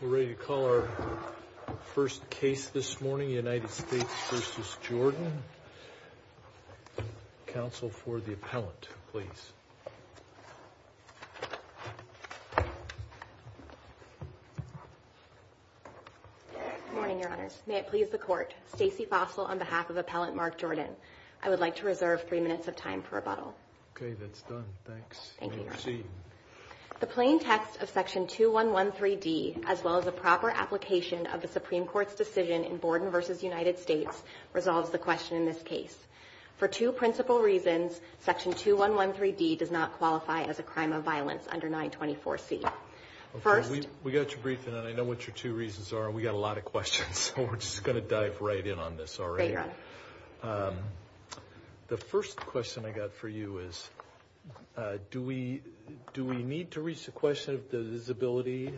We're ready to call our first case this morning, United States v. Jordan. Counsel for the appellant, please. Good morning, Your Honors. May it please the Court. Stacey Fossil on behalf of Appellant Mark Jordan. I would like to reserve three minutes of time for rebuttal. Okay, that's done. Thanks. Thank you, Your Honor. Proceed. The plain text of Section 2113D, as well as a proper application of the Supreme Court's decision in Borden v. United States, resolves the question in this case. For two principal reasons, Section 2113D does not qualify as a crime of violence under 924C. Okay, we got your brief, and I know what your two reasons are. We got a lot of questions, so we're just going to dive right in on this already. Great, Your Honor. The first question I got for you is, do we need to reach the question of divisibility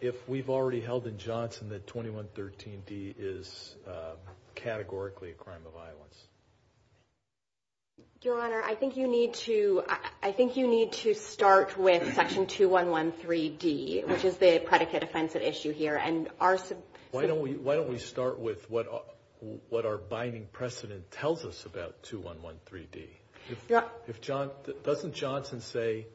if we've already held in Johnson that 2113D is categorically a crime of violence? Your Honor, I think you need to start with Section 2113D, which is the predicate offensive issue here. Why don't we start with what our binding precedent tells us about 2113D? Yep. Doesn't Johnson say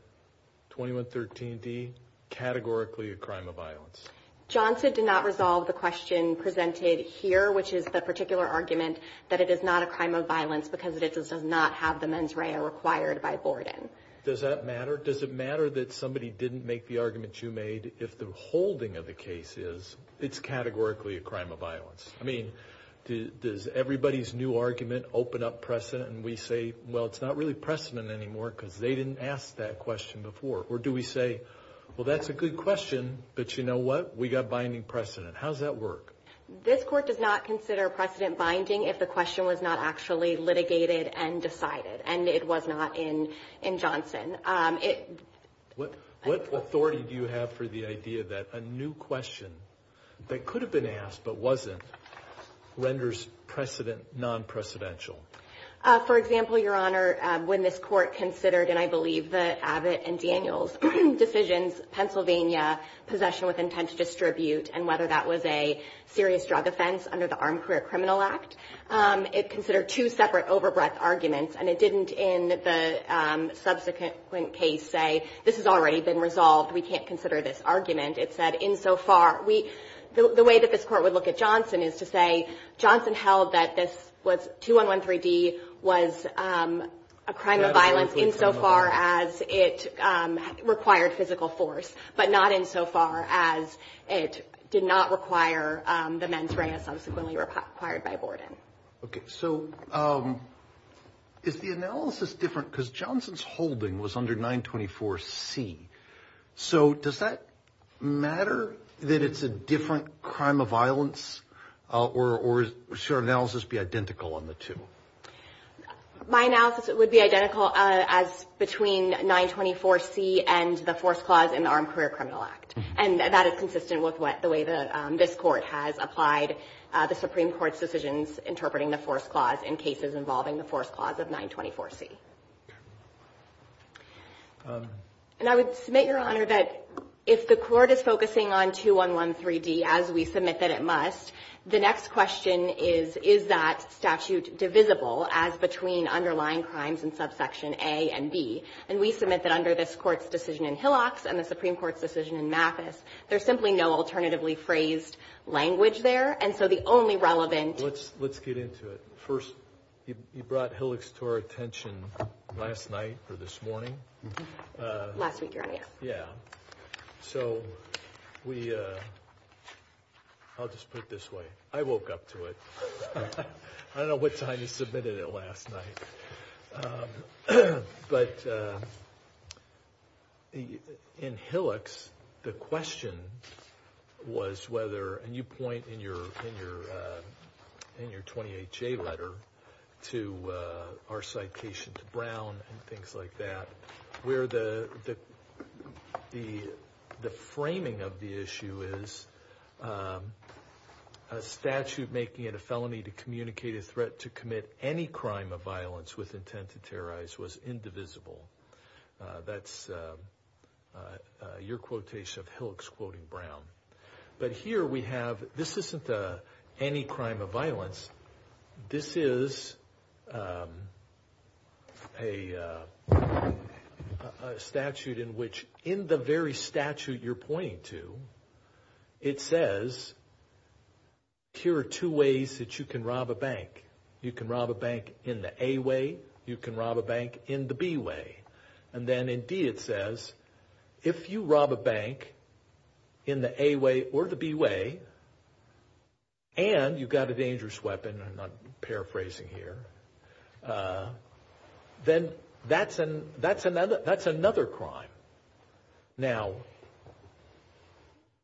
2113D, categorically a crime of violence? Johnson did not resolve the question presented here, which is the particular argument that it is not a crime of violence because it does not have the mens rea required by Borden. Does that matter? Does it matter that somebody didn't make the argument you made if the holding of the case is it's categorically a crime of violence? I mean, does everybody's new argument open up precedent and we say, well, it's not really precedent anymore because they didn't ask that question before? Or do we say, well, that's a good question, but you know what? We got binding precedent. How does that work? This court does not consider precedent binding if the question was not actually litigated and decided and it was not in Johnson. What authority do you have for the idea that a new question that could have been asked but wasn't renders precedent non-precedential? For example, Your Honor, when this court considered, and I believe that Abbott and Daniel's decisions, Pennsylvania possession with intent to distribute and whether that was a serious drug offense under the Armed Career Criminal Act, it considered two separate overbreath arguments. And it didn't in the subsequent case say, this has already been resolved. We can't consider this argument. It said insofar. The way that this court would look at Johnson is to say Johnson held that this was 2113D was a crime of violence insofar as it required physical force, but not insofar as it did not require the mens rea subsequently required by Borden. Okay. So is the analysis different? Because Johnson's holding was under 924C. So does that matter that it's a different crime of violence? Or should our analysis be identical on the two? My analysis would be identical as between 924C and the force clause in the Armed Career Criminal Act. And that is consistent with the way that this court has applied the Supreme Court's decisions interpreting the force clause in cases involving the force clause of 924C. And I would submit, Your Honor, that if the court is focusing on 2113D as we submit that it must, the next question is, is that statute divisible as between underlying crimes in subsection A and B? And we submit that under this Court's decision in Hillox and the Supreme Court's decision in Mathis, there's simply no alternatively phrased language there. And so the only relevant ---- Let's get into it. First, you brought Hillox to our attention last night or this morning. Last week, Your Honor, yes. Yeah. So we, I'll just put it this way. I woke up to it. I don't know what time you submitted it last night. But in Hillox, the question was whether, and you point in your 28J letter to our citation to Brown and things like that, where the framing of the issue is a statute making it a felony to communicate a threat to commit any crime of violence with intent to terrorize was indivisible. That's your quotation of Hillox quoting Brown. But here we have, this isn't any crime of violence. This is a statute in which in the very statute you're pointing to, it says here are two ways that you can rob a bank. You can rob a bank in the A way. You can rob a bank in the B way. And then in D it says if you rob a bank in the A way or the B way and you've got a dangerous weapon, I'm paraphrasing here, then that's another crime. Now,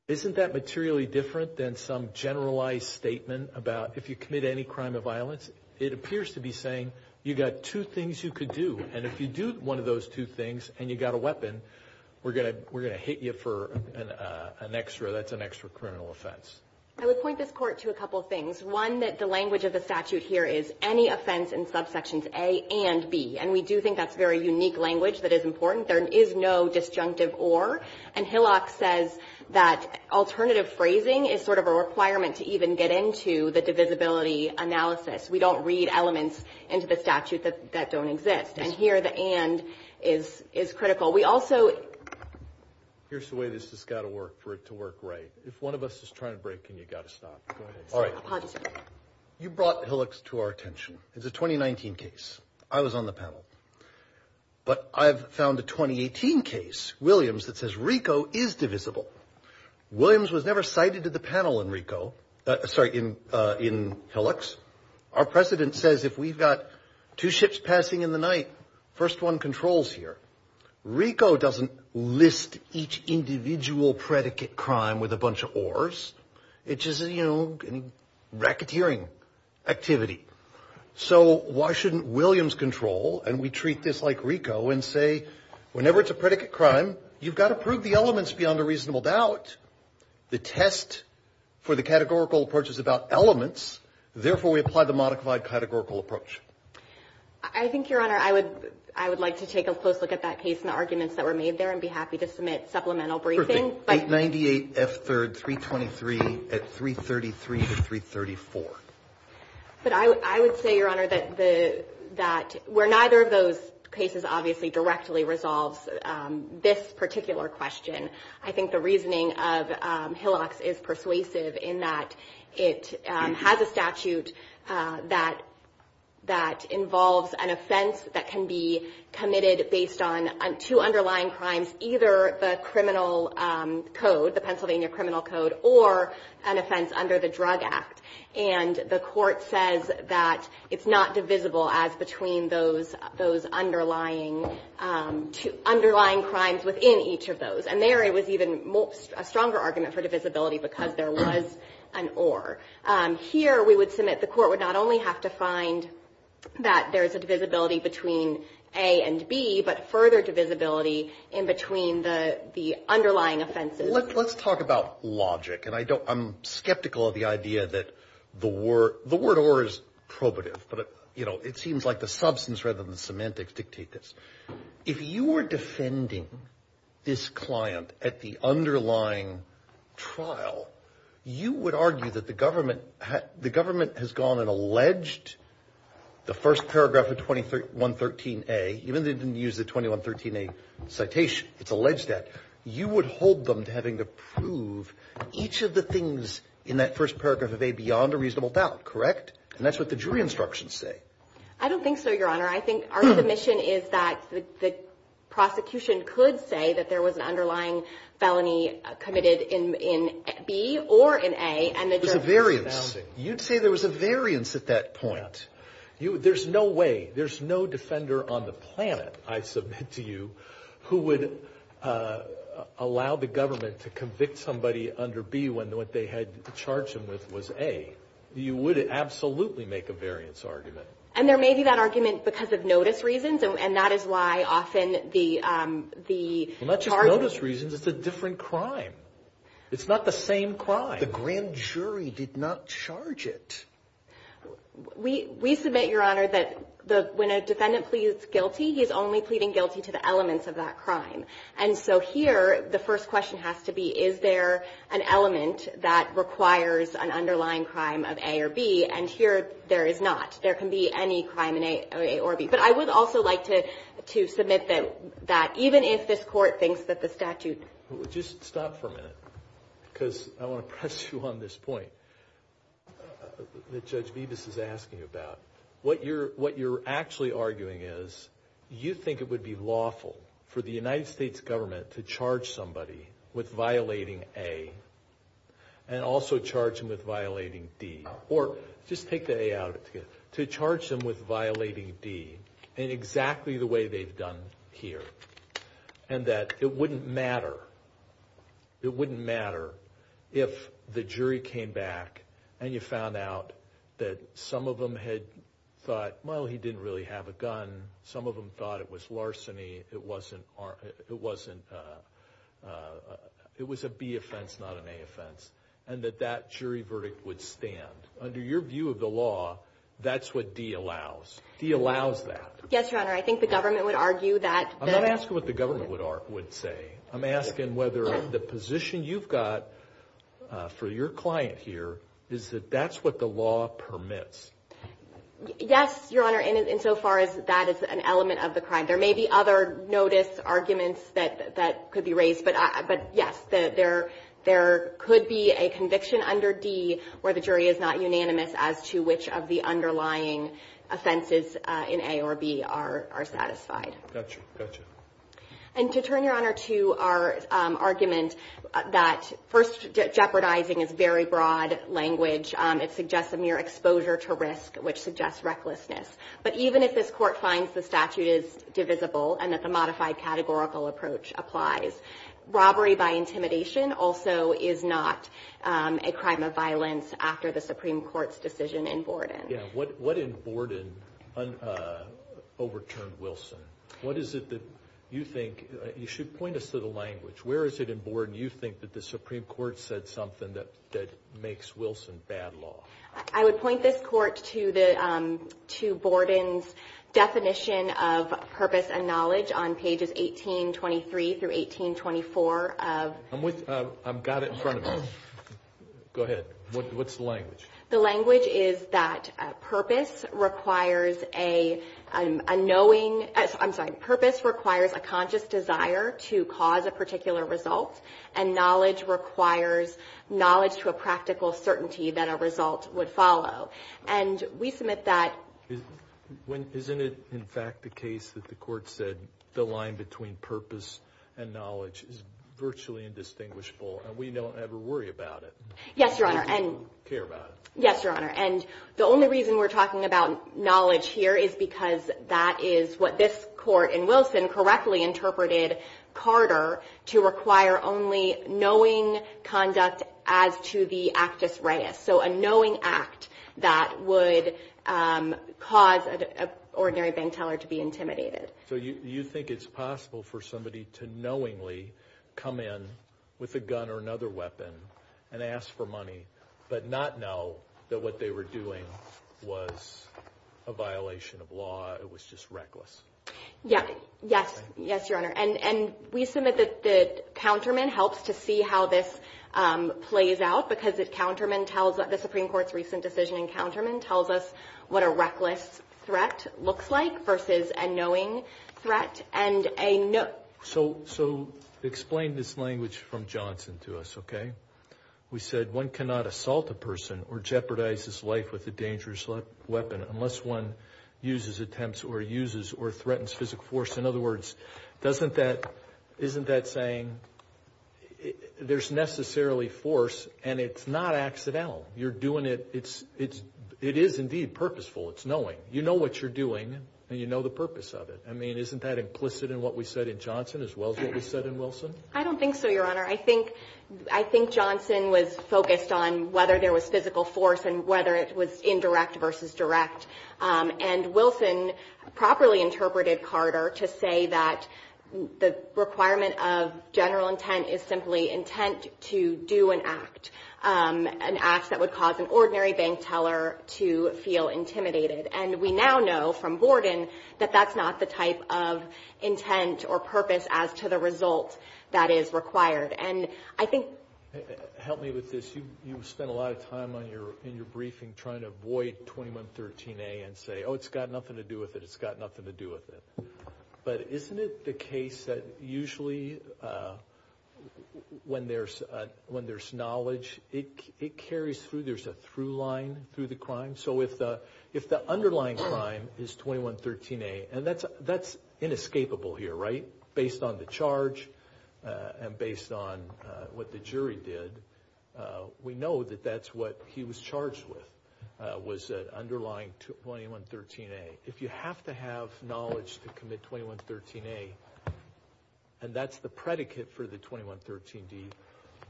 isn't that materially different than some generalized statement about if you commit any crime of violence? It appears to be saying you've got two things you could do. And if you do one of those two things and you've got a weapon, we're going to hit you for an extra, that's an extra criminal offense. I would point this Court to a couple of things. One, that the language of the statute here is any offense in subsections A and B. And we do think that's very unique language that is important. There is no disjunctive or. And Hillock says that alternative phrasing is sort of a requirement to even get into the divisibility analysis. We don't read elements into the statute that don't exist. And here the and is critical. We also – Here's the way this has got to work for it to work right. If one of us is trying to break in, you've got to stop. Go ahead. All right. You brought Hillock's to our attention. It's a 2019 case. I was on the panel. But I've found a 2018 case, Williams, that says RICO is divisible. Williams was never cited to the panel in RICO. Sorry, in Hillock's. Our president says if we've got two ships passing in the night, first one controls here. RICO doesn't list each individual predicate crime with a bunch of ors. It's just, you know, racketeering activity. So why shouldn't Williams control, and we treat this like RICO, and say whenever it's a predicate crime, you've got to prove the elements beyond a reasonable doubt. The test for the categorical approach is about elements. Therefore, we apply the modified categorical approach. I think, Your Honor, I would like to take a close look at that case and the arguments that were made there and be happy to submit supplemental briefing. Perfect. 898F323 at 333 to 334. But I would say, Your Honor, that where neither of those cases obviously directly resolves this particular question, I think the reasoning of Hillock's is persuasive in that it has a statute that involves an offense that can be committed based on two underlying crimes, either the criminal code, the Pennsylvania criminal code, or an offense under the Drug Act. And the Court says that it's not divisible as between those underlying crimes within each of those. And there, it was even a stronger argument for divisibility because there was an or. Here, we would submit the Court would not only have to find that there's a divisibility between A and B, but further divisibility in between the underlying offenses. Let's talk about logic. And I'm skeptical of the idea that the word or is probative, but it seems like the substance rather than the semantics dictate this. If you were defending this client at the underlying trial, you would argue that the government has gone and alleged the first paragraph of 2113A, even though they didn't use the 2113A citation, it's alleged that, you would hold them to having to prove each of the things in that first paragraph of A beyond a reasonable doubt. Correct? And that's what the jury instructions say. I don't think so, Your Honor. I think our submission is that the prosecution could say that there was an underlying felony committed in B or in A. There's a variance. You'd say there was a variance at that point. There's no way. There's no defender on the planet, I submit to you, who would allow the government to convict somebody under B when what they had charged them with was A. You would absolutely make a variance argument. And there may be that argument because of notice reasons, and that is why often the charges— Well, not just notice reasons. It's a different crime. It's not the same crime. The grand jury did not charge it. We submit, Your Honor, that when a defendant pleads guilty, he's only pleading guilty to the elements of that crime. And so here, the first question has to be, is there an element that requires an underlying crime of A or B? And here, there is not. There can be any crime in A or B. But I would also like to submit that even if this Court thinks that the statute— Just stop for a minute because I want to press you on this point that Judge Bibas is asking about. What you're actually arguing is you think it would be lawful for the United States government to charge somebody with violating A and also charge them with violating D, or just take the A out. To charge them with violating D in exactly the way they've done here and that it wouldn't matter if the jury came back and you found out that some of them had thought, well, he didn't really have a gun. Some of them thought it was larceny. It was a B offense, not an A offense, and that that jury verdict would stand. Under your view of the law, that's what D allows. D allows that. Yes, Your Honor. I think the government would argue that— I'm not asking what the government would say. I'm asking whether the position you've got for your client here is that that's what the law permits. Yes, Your Honor, insofar as that is an element of the crime. There may be other notice arguments that could be raised, but yes, there could be a conviction under D where the jury is not unanimous as to which of the underlying offenses in A or B are satisfied. Gotcha, gotcha. And to turn, Your Honor, to our argument that first, jeopardizing is very broad language. It suggests a mere exposure to risk, which suggests recklessness. But even if this Court finds the statute is divisible and that the modified categorical approach applies, robbery by intimidation also is not a crime of violence after the Supreme Court's decision in Borden. Yeah. What in Borden overturned Wilson? What is it that you think—you should point us to the language. Where is it in Borden you think that the Supreme Court said something that makes Wilson bad law? I would point this Court to Borden's definition of purpose and knowledge on pages 1823 through 1824 of— I've got it in front of me. Go ahead. What's the language? The language is that purpose requires a knowing—I'm sorry. Purpose requires a conscious desire to cause a particular result, and knowledge requires knowledge to a practical certainty that a result would follow. And we submit that— Isn't it, in fact, the case that the Court said the line between purpose and knowledge is virtually indistinguishable, and we don't ever worry about it? Yes, Your Honor. We don't care about it. Yes, Your Honor. And the only reason we're talking about knowledge here is because that is what this Court in Wilson correctly interpreted Carter to require only knowing conduct as to the actus reus, so a knowing act that would cause an ordinary bank teller to be intimidated. So you think it's possible for somebody to knowingly come in with a gun or another weapon and ask for money but not know that what they were doing was a violation of law, it was just reckless? Yes. Yes, Your Honor. And we submit that the counterman helps to see how this plays out, because the Supreme Court's recent decision in counterman tells us what a reckless threat looks like versus a knowing threat, and a— So explain this language from Johnson to us, okay? We said one cannot assault a person or jeopardize his life with a dangerous weapon unless one uses, attempts, or uses or threatens physical force. In other words, isn't that saying there's necessarily force and it's not accidental? You're doing it, it is indeed purposeful, it's knowing. You know what you're doing and you know the purpose of it. I mean, isn't that implicit in what we said in Johnson as well as what we said in Wilson? I don't think so, Your Honor. I think Johnson was focused on whether there was physical force and whether it was indirect versus direct. And Wilson properly interpreted Carter to say that the requirement of general intent is simply intent to do an act, an act that would cause an ordinary bank teller to feel intimidated. And we now know from Borden that that's not the type of intent or purpose as to the result that is required. And I think— Help me with this. You spent a lot of time in your briefing trying to avoid 2113A and say, oh, it's got nothing to do with it, it's got nothing to do with it. But isn't it the case that usually when there's knowledge, it carries through, there's a through line through the crime? So if the underlying crime is 2113A, and that's inescapable here, right? Based on the charge and based on what the jury did, we know that that's what he was charged with, was that underlying 2113A. If you have to have knowledge to commit 2113A, and that's the predicate for the 2113D,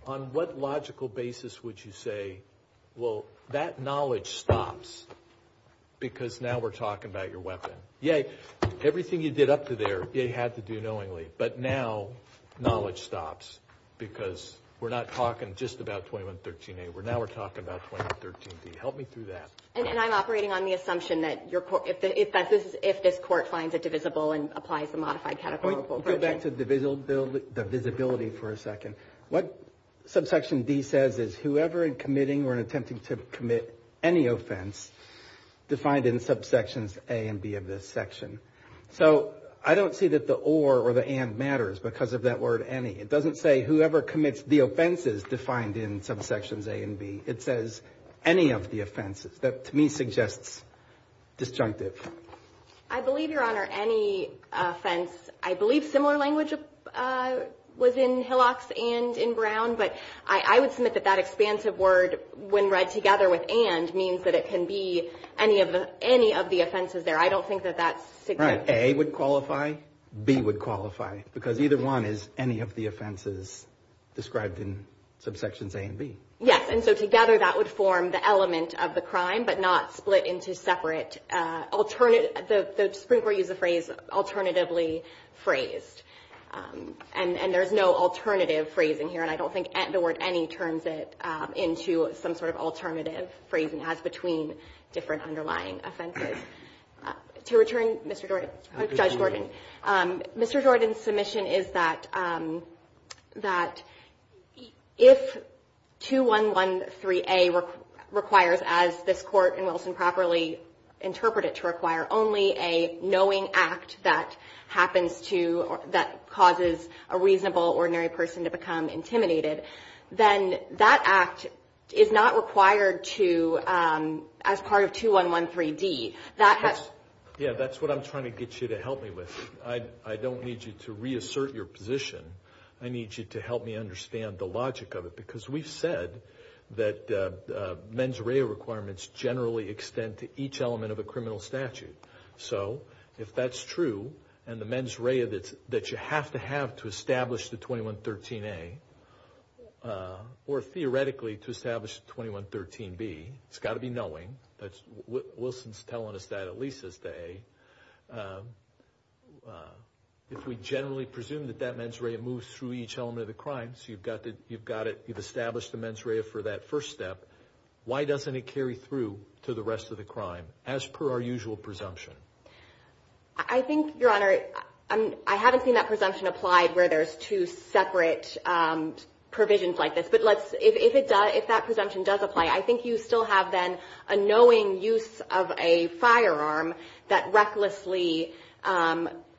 on what logical basis would you say, well, that knowledge stops because now we're talking about your weapon. Yay. Everything you did up to there, you had to do knowingly. But now knowledge stops because we're not talking just about 2113A. Now we're talking about 2113D. Help me through that. And I'm operating on the assumption that if this court finds it divisible and applies the modified categorical— Go back to the visibility for a second. What subsection D says is whoever in committing or attempting to commit any offense defined in subsections A and B of this section. So I don't see that the or or the and matters because of that word any. It doesn't say whoever commits the offenses defined in subsections A and B. It says any of the offenses. That to me suggests disjunctive. I believe, Your Honor, any offense. I believe similar language was in Hillock's and in Brown. But I would submit that that expansive word, when read together with and, means that it can be any of the offenses there. I don't think that that's significant. Right. A would qualify. B would qualify. Because either one is any of the offenses described in subsections A and B. Yes. And so together that would form the element of the crime, but not split into separate alternative—the Supreme Court used the phrase alternatively phrased. And there's no alternative phrasing here. And I don't think the word any turns it into some sort of alternative phrasing as between different underlying offenses. To return, Mr. Jordan, Judge Jordan. Mr. Jordan's submission is that if 2113A requires, as this Court in Wilson properly interpreted to require, only a knowing act that happens to—that causes a reasonable, ordinary person to become intimidated, then that act is not required to—as part of 2113D. Yeah, that's what I'm trying to get you to help me with. I don't need you to reassert your position. I need you to help me understand the logic of it. Because we've said that mens rea requirements generally extend to each element of a criminal statute. So if that's true, and the mens rea that you have to have to establish the 2113A, or theoretically to establish the 2113B, it's got to be knowing. Wilson's telling us that at least as to A. If we generally presume that that mens rea moves through each element of the crime, so you've got it—you've established the mens rea for that first step, why doesn't it carry through to the rest of the crime as per our usual presumption? I think, Your Honor, I haven't seen that presumption applied where there's two separate provisions like this. But let's—if that presumption does apply, I think you still have then a knowing use of a firearm that recklessly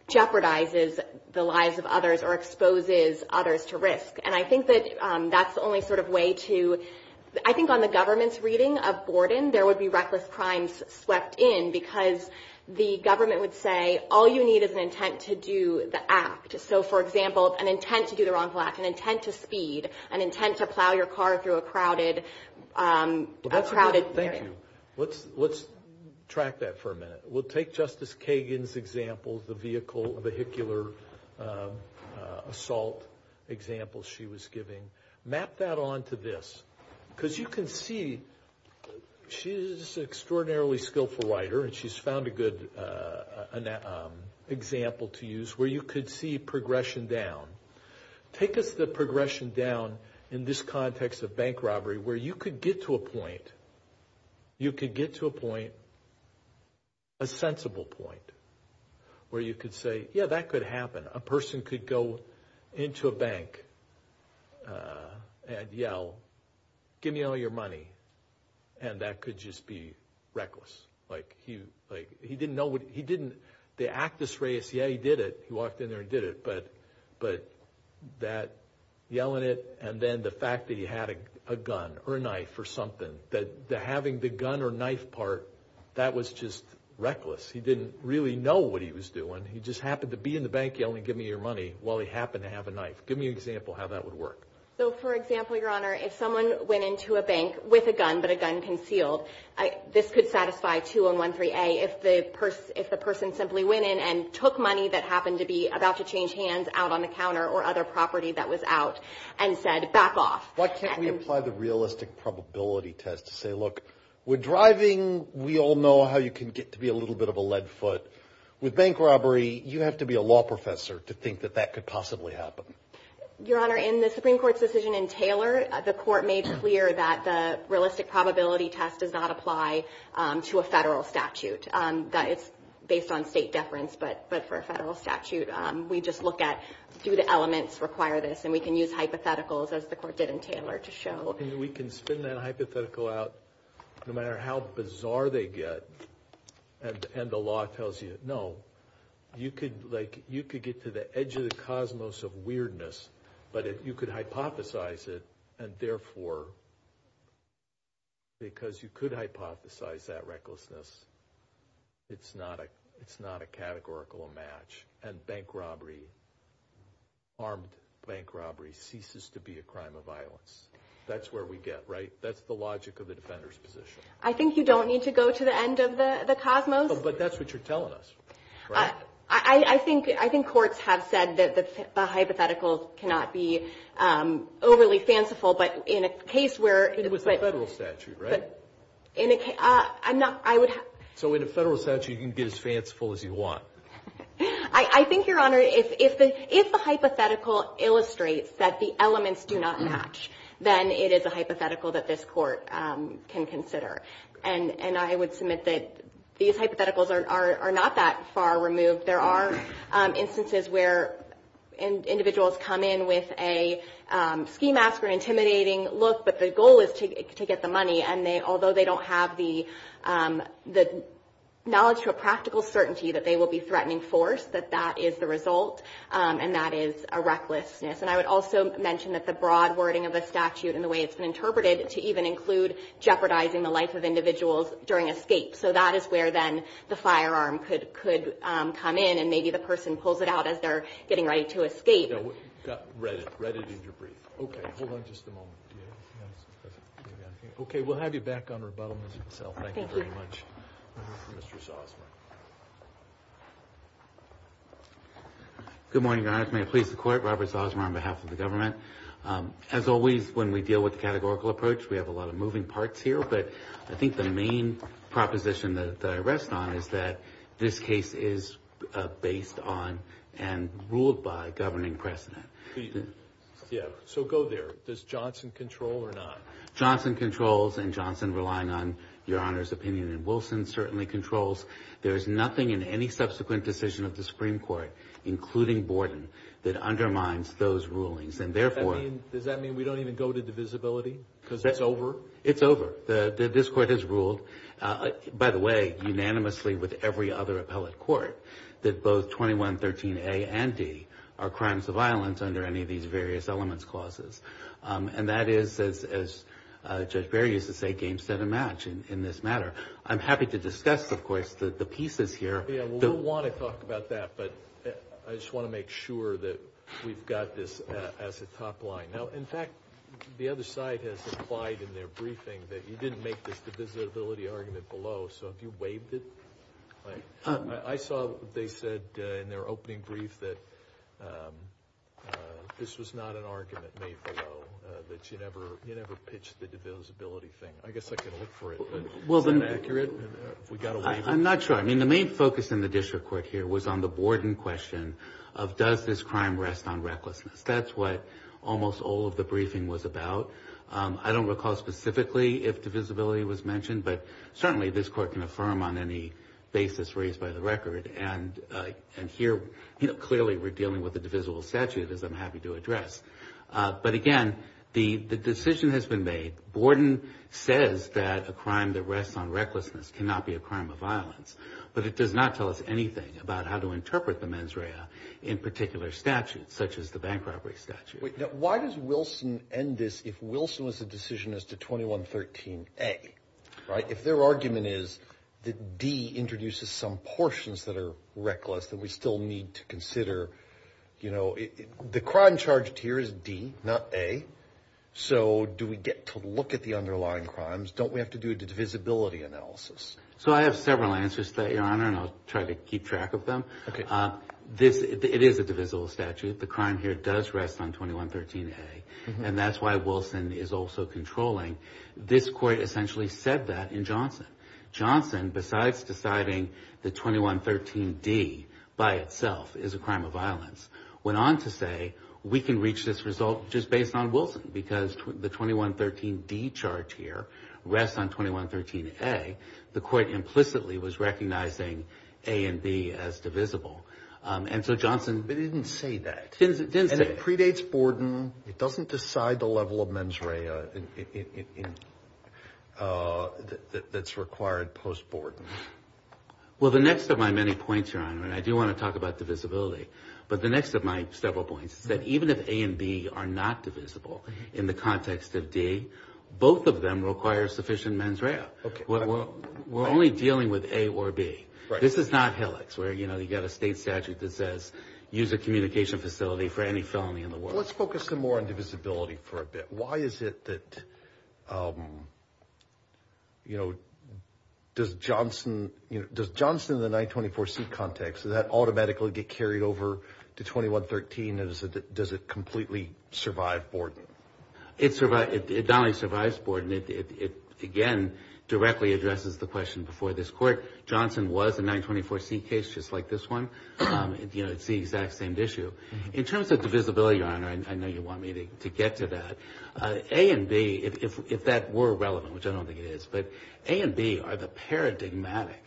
jeopardizes the lives of others or exposes others to risk. And I think that that's the only sort of way to—I think on the government's reading of Borden, there would be reckless crimes swept in because the government would say, all you need is an intent to do the act. So, for example, an intent to do the wrongful act, an intent to speed, an intent to plow your car through a crowded area. Thank you. Let's track that for a minute. We'll take Justice Kagan's example, the vehicular assault example she was giving. Map that onto this because you can see she's an extraordinarily skillful writer and she's found a good example to use where you could see progression down. Take us the progression down in this context of bank robbery where you could get to a point, you could get to a point, a sensible point, where you could say, yeah, that could happen. A person could go into a bank and yell, give me all your money, and that could just be reckless. Like, he didn't know what—he didn't—the actus reus, yeah, he did it. He walked in there and did it. But that yelling it and then the fact that he had a gun or a knife or something, that having the gun or knife part, that was just reckless. He didn't really know what he was doing. He just happened to be in the bank yelling, give me your money, while he happened to have a knife. Give me an example how that would work. So, for example, Your Honor, if someone went into a bank with a gun but a gun concealed, this could satisfy 2113A if the person simply went in and took money that happened to be about to change hands out on the counter or other property that was out and said, back off. Why can't we apply the realistic probability test to say, look, we're driving. We all know how you can get to be a little bit of a lead foot. With bank robbery, you have to be a law professor to think that that could possibly happen. Your Honor, in the Supreme Court's decision in Taylor, the court made clear that the realistic probability test does not apply to a federal statute. It's based on state deference, but for a federal statute, we just look at do the elements require this, and we can use hypotheticals, as the court did in Taylor, to show. We can spin that hypothetical out no matter how bizarre they get, and the law tells you, no, you could get to the edge of the cosmos of weirdness, but if you could hypothesize it, and therefore, because you could hypothesize that recklessness, it's not a categorical match. And bank robbery, armed bank robbery, ceases to be a crime of violence. That's where we get, right? That's the logic of the defender's position. I think you don't need to go to the end of the cosmos. But that's what you're telling us, right? I think courts have said that the hypothetical cannot be overly fanciful, but in a case where— It was a federal statute, right? In a case—I'm not—I would— So in a federal statute, you can get as fanciful as you want. I think, Your Honor, if the hypothetical illustrates that the elements do not match, then it is a hypothetical that this court can consider. And I would submit that these hypotheticals are not that far removed. There are instances where individuals come in with a schematic or intimidating look, but the goal is to get the money, and although they don't have the knowledge or practical certainty that they will be threatening force, that that is the result, and that is a recklessness. And I would also mention that the broad wording of the statute and the way it's been interpreted to even include jeopardizing the life of individuals during escape. So that is where, then, the firearm could come in, and maybe the person pulls it out as they're getting ready to escape. No. Read it. Read it in your brief. Okay. Hold on just a moment. Okay. We'll have you back on rebuttal, Mr. Gisell. Thank you very much. Thank you. Mr. Zosmar. Good morning, Your Honor. Your Honor, may it please the Court, Robert Zosmar on behalf of the government. As always when we deal with the categorical approach, we have a lot of moving parts here, but I think the main proposition that I rest on is that this case is based on and ruled by a governing precedent. Yeah. So go there. Does Johnson control or not? Johnson controls, and Johnson relying on Your Honor's opinion, and Wilson certainly controls. There is nothing in any subsequent decision of the Supreme Court, including Borden, that undermines those rulings, and therefore Does that mean we don't even go to divisibility because it's over? It's over. This Court has ruled, by the way, unanimously with every other appellate court, that both 2113A and D are crimes of violence under any of these various elements clauses. And that is, as Judge Barry used to say, game, set, and match in this matter. I'm happy to discuss, of course, the pieces here. We'll want to talk about that, but I just want to make sure that we've got this as a top line. Now, in fact, the other side has implied in their briefing that you didn't make this divisibility argument below, so have you waived it? I saw they said in their opening brief that this was not an argument made below, that you never pitched the divisibility thing. I guess I can look for it. Is that accurate? I'm not sure. I mean, the main focus in the district court here was on the Borden question of does this crime rest on recklessness. That's what almost all of the briefing was about. I don't recall specifically if divisibility was mentioned, but certainly this Court can affirm on any basis raised by the record, and here clearly we're dealing with a divisible statute, as I'm happy to address. But, again, the decision has been made. Borden says that a crime that rests on recklessness cannot be a crime of violence, but it does not tell us anything about how to interpret the mens rea in particular statutes, such as the bank robbery statute. Why does Wilson end this if Wilson was the decision as to 2113A, right? If their argument is that D introduces some portions that are reckless that we still need to consider, you know, the crime charged here is D, not A. So do we get to look at the underlying crimes? Don't we have to do a divisibility analysis? So I have several answers to that, Your Honor, and I'll try to keep track of them. Okay. It is a divisible statute. The crime here does rest on 2113A, and that's why Wilson is also controlling. This Court essentially said that in Johnson. went on to say we can reach this result just based on Wilson because the 2113D chart here rests on 2113A. The Court implicitly was recognizing A and B as divisible. But it didn't say that. It didn't say that. And it predates Borden. It doesn't decide the level of mens rea that's required post-Borden. Well, the next of my many points, Your Honor, and I do want to talk about divisibility, but the next of my several points is that even if A and B are not divisible in the context of D, both of them require sufficient mens rea. We're only dealing with A or B. This is not HILICS where, you know, you've got a state statute that says, use a communication facility for any felony in the world. Let's focus some more on divisibility for a bit. Why is it that, you know, does Johnson, you know, does Johnson in the 924C context, does that automatically get carried over to 2113? Does it completely survive Borden? It survives Borden. It, again, directly addresses the question before this Court. Johnson was a 924C case just like this one. You know, it's the exact same issue. In terms of divisibility, Your Honor, I know you want me to get to that. A and B, if that were relevant, which I don't think it is, but A and B are the paradigmatic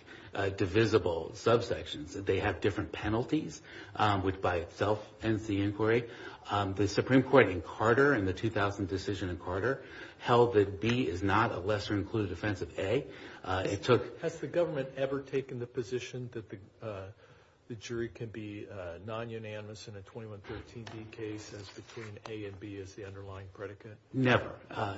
divisible subsections. They have different penalties, which by itself ends the inquiry. The Supreme Court in Carter in the 2000 decision in Carter held that B is not a lesser included offense of A. Has the government ever taken the position that the jury can be non-unanimous in a 2113B case as between A and B as the underlying predicate? Never.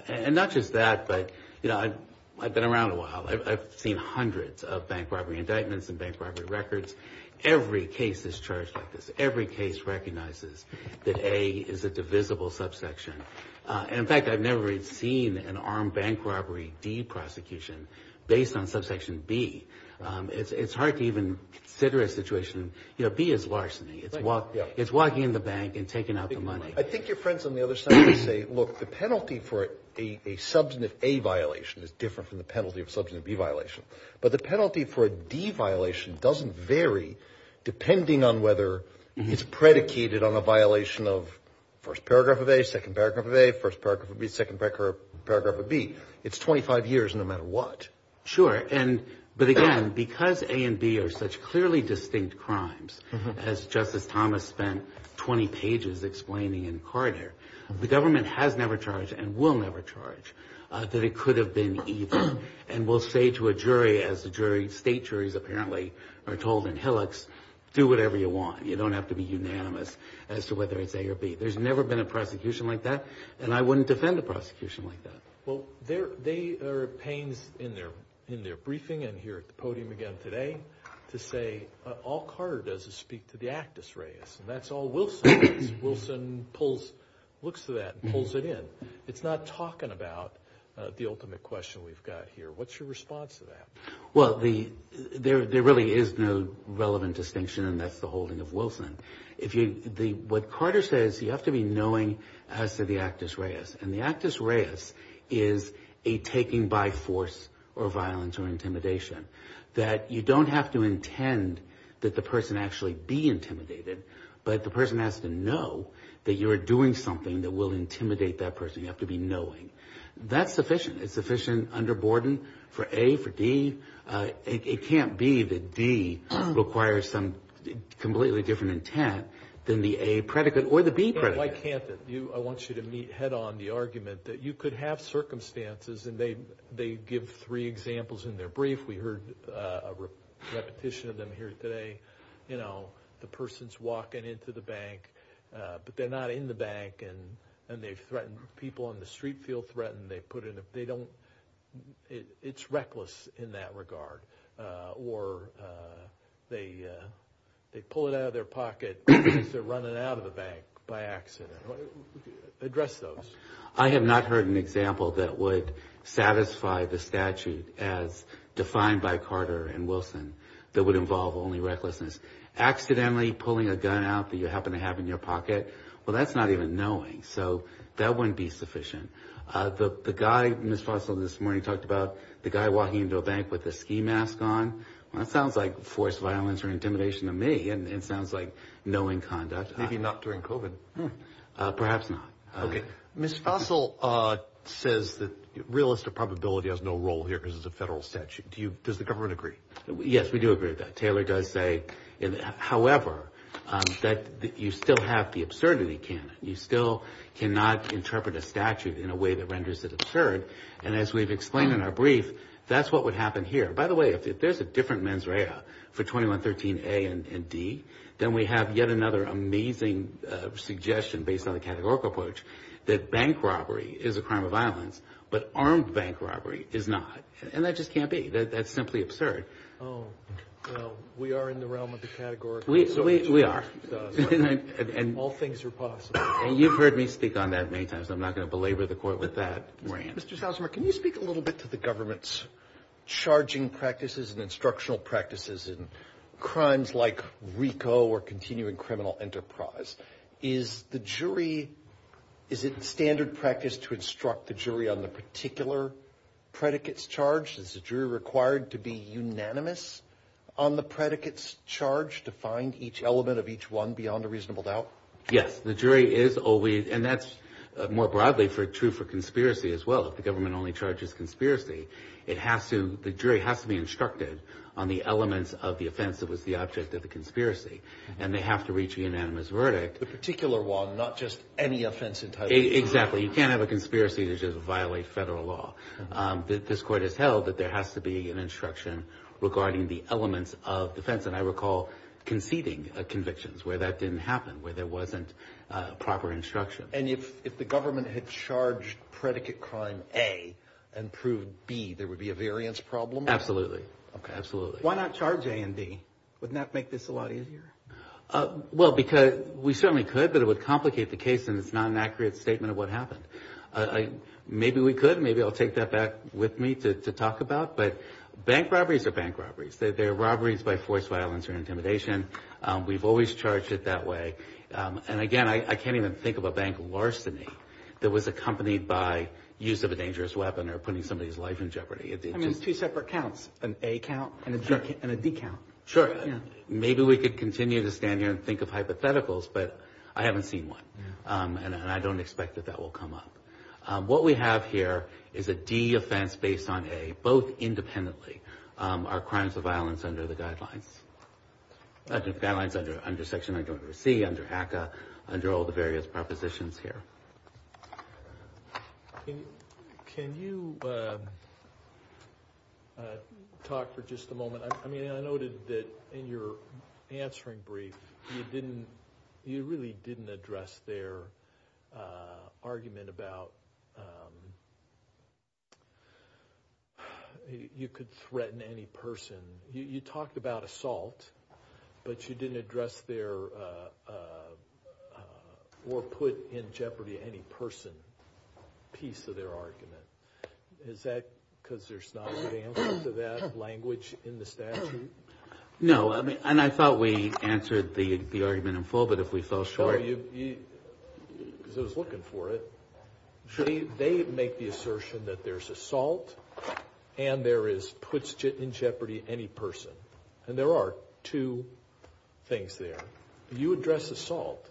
And not just that, but, you know, I've been around a while. I've seen hundreds of bank robbery indictments and bank robbery records. Every case is charged like this. Every case recognizes that A is a divisible subsection. And, in fact, I've never seen an armed bank robbery D prosecution based on subsection B. It's hard to even consider a situation. You know, B is larceny. It's walking in the bank and taking out the money. I think your friends on the other side would say, look, the penalty for a substantive A violation is different from the penalty of a substantive B violation. But the penalty for a D violation doesn't vary depending on whether it's predicated on a violation of first paragraph of A, second paragraph of A, first paragraph of B, second paragraph of B. It's 25 years no matter what. Sure. But, again, because A and B are such clearly distinct crimes, as Justice Thomas spent 20 pages explaining in Carter, the government has never charged and will never charge that it could have been either. And we'll say to a jury, as state juries apparently are told in Hillux, do whatever you want. You don't have to be unanimous as to whether it's A or B. There's never been a prosecution like that, and I wouldn't defend a prosecution like that. Well, there are pains in their briefing and here at the podium again today to say all Carter does is speak to the actus reus, and that's all Wilson does. Wilson looks to that and pulls it in. It's not talking about the ultimate question we've got here. What's your response to that? Well, there really is no relevant distinction, and that's the holding of Wilson. What Carter says, you have to be knowing as to the actus reus, and the actus reus is a taking by force or violence or intimidation, that you don't have to intend that the person actually be intimidated, but the person has to know that you are doing something that will intimidate that person. You have to be knowing. That's sufficient. It's sufficient under Borden for A, for D. It can't be that D requires some completely different intent than the A predicate or the B predicate. Why can't it? I want you to meet head-on the argument that you could have circumstances, and they give three examples in their brief. We heard a repetition of them here today. You know, the person's walking into the bank, but they're not in the bank, and they've threatened people on the street feel threatened. It's reckless in that regard. Or they pull it out of their pocket because they're running out of the bank by accident. Address those. I have not heard an example that would satisfy the statute as defined by Carter and Wilson that would involve only recklessness. Accidentally pulling a gun out that you happen to have in your pocket, well, that's not even knowing. So that wouldn't be sufficient. The guy, Ms. Fossil, this morning talked about the guy walking into a bank with a ski mask on. That sounds like forced violence or intimidation to me, and it sounds like knowing conduct. Maybe not during COVID. Perhaps not. Okay. Ms. Fossil says that realistic probability has no role here because it's a federal statute. Does the government agree? Yes, we do agree with that. Taylor does say, however, that you still have the absurdity canon. You still cannot interpret a statute in a way that renders it absurd. And as we've explained in our brief, that's what would happen here. By the way, if there's a different mens rea for 2113A and D, then we have yet another amazing suggestion based on the categorical approach that bank robbery is a crime of violence, but armed bank robbery is not. And that just can't be. That's simply absurd. Oh, well, we are in the realm of the categorical approach. We are. All things are possible. And you've heard me speak on that many times. I'm not going to belabor the court with that rant. Mr. Salzman, can you speak a little bit to the government's charging practices and instructional practices in crimes like RICO or continuing criminal enterprise? Is it standard practice to instruct the jury on the particular predicates charged? Is the jury required to be unanimous on the predicates charged to find each element of each one beyond a reasonable doubt? Yes. The jury is always – and that's more broadly true for conspiracy as well. If the government only charges conspiracy, it has to – the jury has to be instructed on the elements of the offense that was the object of the conspiracy. And they have to reach a unanimous verdict. The particular one, not just any offense entirely. Exactly. You can't have a conspiracy that just violates federal law. This court has held that there has to be an instruction regarding the elements of defense. And I recall conceding convictions where that didn't happen, where there wasn't proper instruction. And if the government had charged predicate crime A and proved B, there would be a variance problem? Absolutely. Okay. Absolutely. Why not charge A and D? Wouldn't that make this a lot easier? Well, because we certainly could, but it would complicate the case and it's not an accurate statement of what happened. Maybe we could. Maybe I'll take that back with me to talk about. But bank robberies are bank robberies. They're robberies by forced violence or intimidation. We've always charged it that way. And, again, I can't even think of a bank larceny that was accompanied by use of a dangerous weapon or putting somebody's life in jeopardy. I mean, it's two separate counts, an A count and a D count. Sure. Maybe we could continue to stand here and think of hypotheticals, but I haven't seen one. And I don't expect that that will come up. What we have here is a D offense based on A, both independently. Are crimes of violence under the guidelines? Under section C, under ACCA, under all the various propositions here. Can you talk for just a moment? I mean, I noted that in your answering brief, you really didn't address their argument about you could threaten any person. You talked about assault, but you didn't address their or put in jeopardy any person piece of their argument. Is that because there's not a good answer to that language in the statute? No, and I thought we answered the argument in full, but if we fell short. No, because I was looking for it. They make the assertion that there's assault and there is puts in jeopardy any person. And there are two things there. You address assault,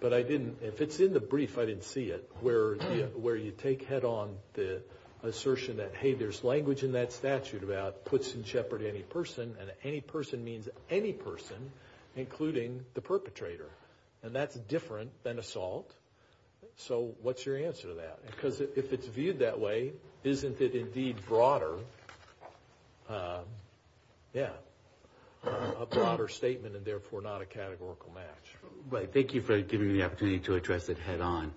but I didn't. If it's in the brief, I didn't see it. Where you take head on the assertion that, hey, there's language in that statute about puts in jeopardy any person. And any person means any person, including the perpetrator. And that's different than assault. So what's your answer to that? Because if it's viewed that way, isn't it indeed broader? Yeah. A broader statement and therefore not a categorical match. Right. Thank you for giving me the opportunity to address it head on.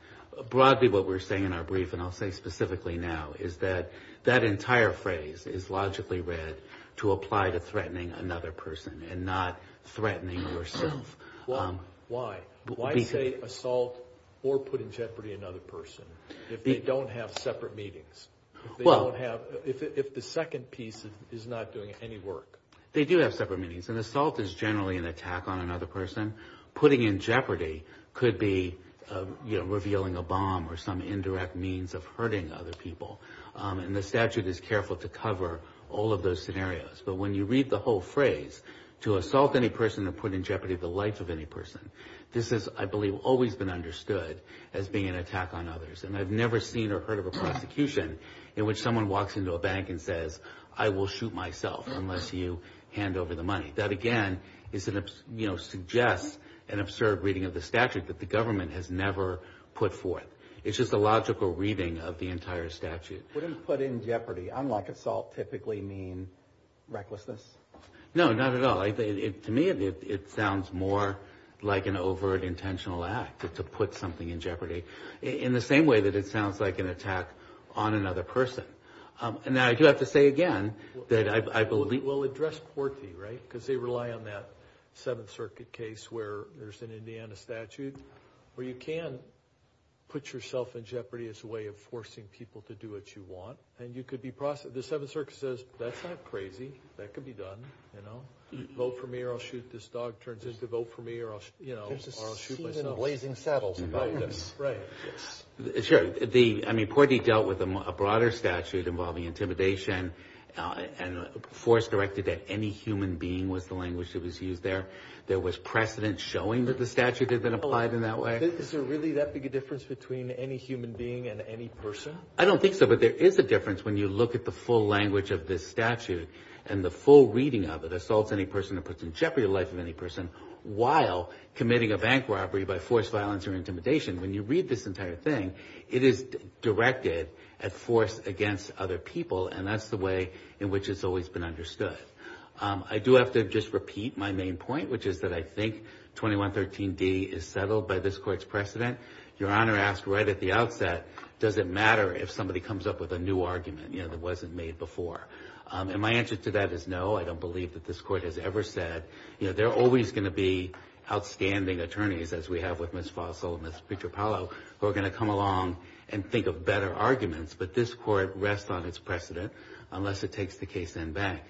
Broadly, what we're saying in our brief, and I'll say specifically now, is that that entire phrase is logically read to apply to threatening another person and not threatening yourself. Why? Why say assault or put in jeopardy another person if they don't have separate meetings? If the second piece is not doing any work? They do have separate meetings. And assault is generally an attack on another person. Putting in jeopardy could be revealing a bomb or some indirect means of hurting other people. And the statute is careful to cover all of those scenarios. But when you read the whole phrase, to assault any person or put in jeopardy the life of any person, this has, I believe, always been understood as being an attack on others. And I've never seen or heard of a prosecution in which someone walks into a bank and says, I will shoot myself unless you hand over the money. That, again, suggests an absurd reading of the statute that the government has never put forth. It's just a logical reading of the entire statute. Wouldn't put in jeopardy, unlike assault, typically mean recklessness? No, not at all. To me, it sounds more like an overt intentional act to put something in jeopardy in the same way that it sounds like an attack on another person. And I do have to say again that I believe. Because they rely on that Seventh Circuit case where there's an Indiana statute where you can put yourself in jeopardy as a way of forcing people to do what you want. And you could be prosecuted. The Seventh Circuit says, that's not crazy. That could be done. You know, vote for me or I'll shoot. This dog turns into vote for me or I'll shoot myself. There's a scene in Blazing Saddles about this. Sure. I mean, Courtney dealt with a broader statute involving intimidation and force directed that any human being was the language that was used there. There was precedent showing that the statute had been applied in that way. Is there really that big a difference between any human being and any person? I don't think so. But there is a difference when you look at the full language of this statute and the full reading of it. Assaults any person and puts in jeopardy the life of any person while committing a bank robbery by force, violence or intimidation. When you read this entire thing, it is directed at force against other people. And that's the way in which it's always been understood. I do have to just repeat my main point, which is that I think 2113D is settled by this court's precedent. Your Honor asked right at the outset, does it matter if somebody comes up with a new argument that wasn't made before? And my answer to that is no. I don't believe that this court has ever said. You know, there are always going to be outstanding attorneys, as we have with Ms. Fossil and Ms. Petropalo, who are going to come along and think of better arguments. But this court rests on its precedent unless it takes the case in back.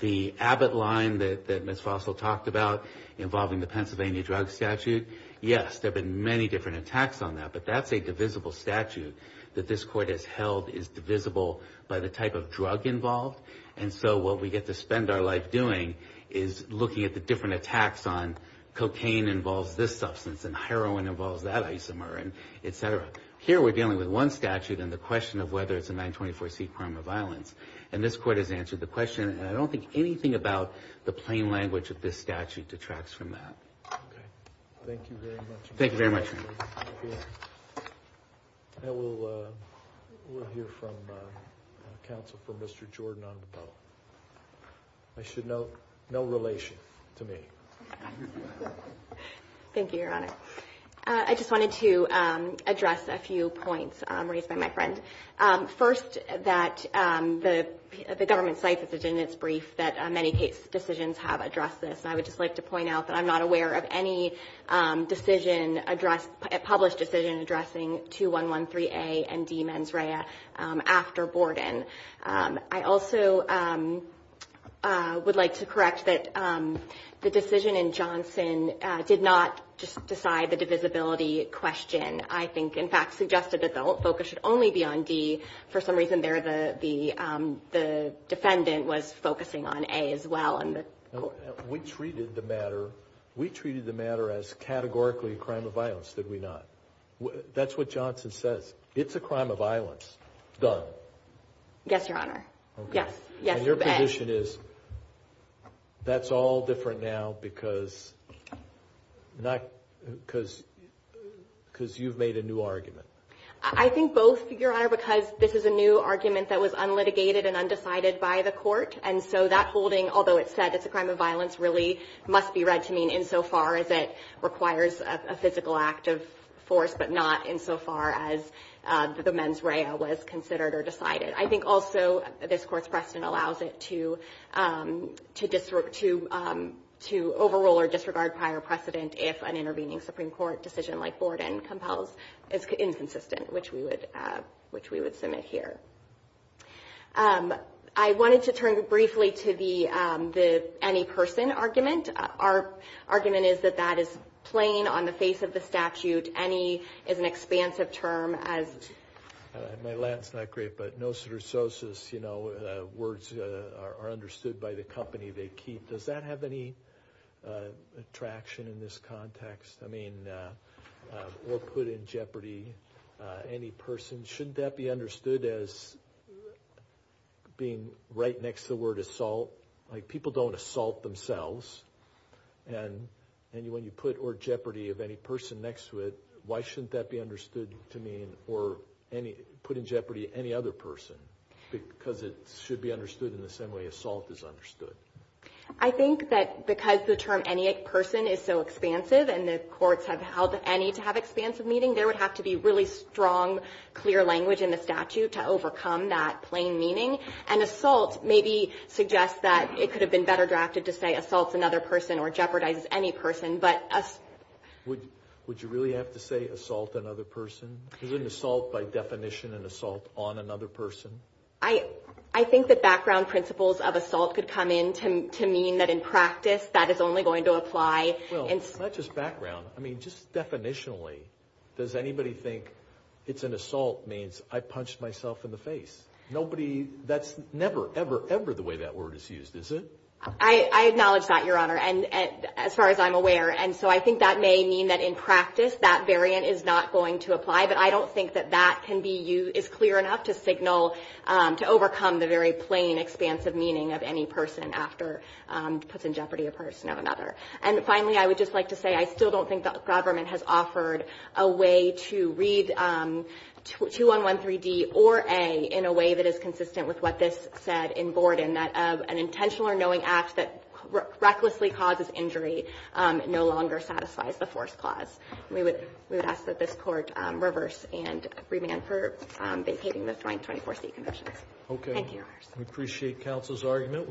The Abbott line that Ms. Fossil talked about involving the Pennsylvania drug statute, yes, there have been many different attacks on that. But that's a divisible statute that this court has held is divisible by the type of drug involved. And so what we get to spend our life doing is looking at the different attacks on cocaine involves this substance and heroin involves that isomer and et cetera. Here we're dealing with one statute and the question of whether it's a 924c crime or violence. And this court has answered the question. And I don't think anything about the plain language of this statute detracts from that. Okay. Thank you very much. Thank you very much, Your Honor. And we'll hear from counsel for Mr. Jordan on the bill. I should note, no relation to me. Thank you, Your Honor. I just wanted to address a few points raised by my friend. First, that the government site decision, it's brief, that many case decisions have addressed this. And I would just like to point out that I'm not aware of any decision, published decision, addressing 2113A and D mens rea after Borden. I also would like to correct that the decision in Johnson did not just decide the divisibility question. I think, in fact, suggested that the focus should only be on D. For some reason there the defendant was focusing on A as well. We treated the matter as categorically a crime of violence, did we not? That's what Johnson says. It's a crime of violence. Done. Yes, Your Honor. Yes. And your position is that's all different now because you've made a new argument. I think both, Your Honor, because this is a new argument that was unlitigated and undecided by the court. And so that holding, although it said it's a crime of violence, really must be read to mean insofar as it requires a physical act of force, but not insofar as the mens rea was considered or decided. I think also this Court's precedent allows it to overrule or disregard prior precedent if an intervening Supreme Court decision like Borden compels is inconsistent, which we would submit here. I wanted to turn briefly to the any person argument. Our argument is that that is plain on the face of the statute. Any is an expansive term as... My Latin's not great, but nostrososis, you know, words are understood by the company they keep. Does that have any traction in this context? I mean, or put in jeopardy any person. Shouldn't that be understood as being right next to the word assault? Like people don't assault themselves. And when you put or jeopardy of any person next to it, why shouldn't that be understood to mean or put in jeopardy any other person? Because it should be understood in the same way assault is understood. I think that because the term any person is so expansive and the courts have held any to have expansive meaning, there would have to be really strong, clear language in the statute to overcome that plain meaning. And assault maybe suggests that it could have been better drafted to say assaults another person or jeopardizes any person, but... Would you really have to say assault another person? Is an assault by definition an assault on another person? I think that background principles of assault could come in to mean that in practice that is only going to apply... Well, not just background. I mean, just definitionally, does anybody think it's an assault means I punched myself in the face? Nobody... That's never, ever, ever the way that word is used, is it? I acknowledge that, Your Honor, as far as I'm aware. And so I think that may mean that in practice that variant is not going to apply, but I don't think that that is clear enough to signal, to overcome the very plain expansive meaning of any person after puts in jeopardy a person or another. And finally, I would just like to say I still don't think the government has offered a way to read 2113D or A in a way that is consistent with what this said in Borden, that an intentional or knowing act that recklessly causes injury no longer satisfies the force clause. We would ask that this Court reverse and remand for vacating the joint 24C conditions. Thank you, Your Honors. We appreciate counsel's argument.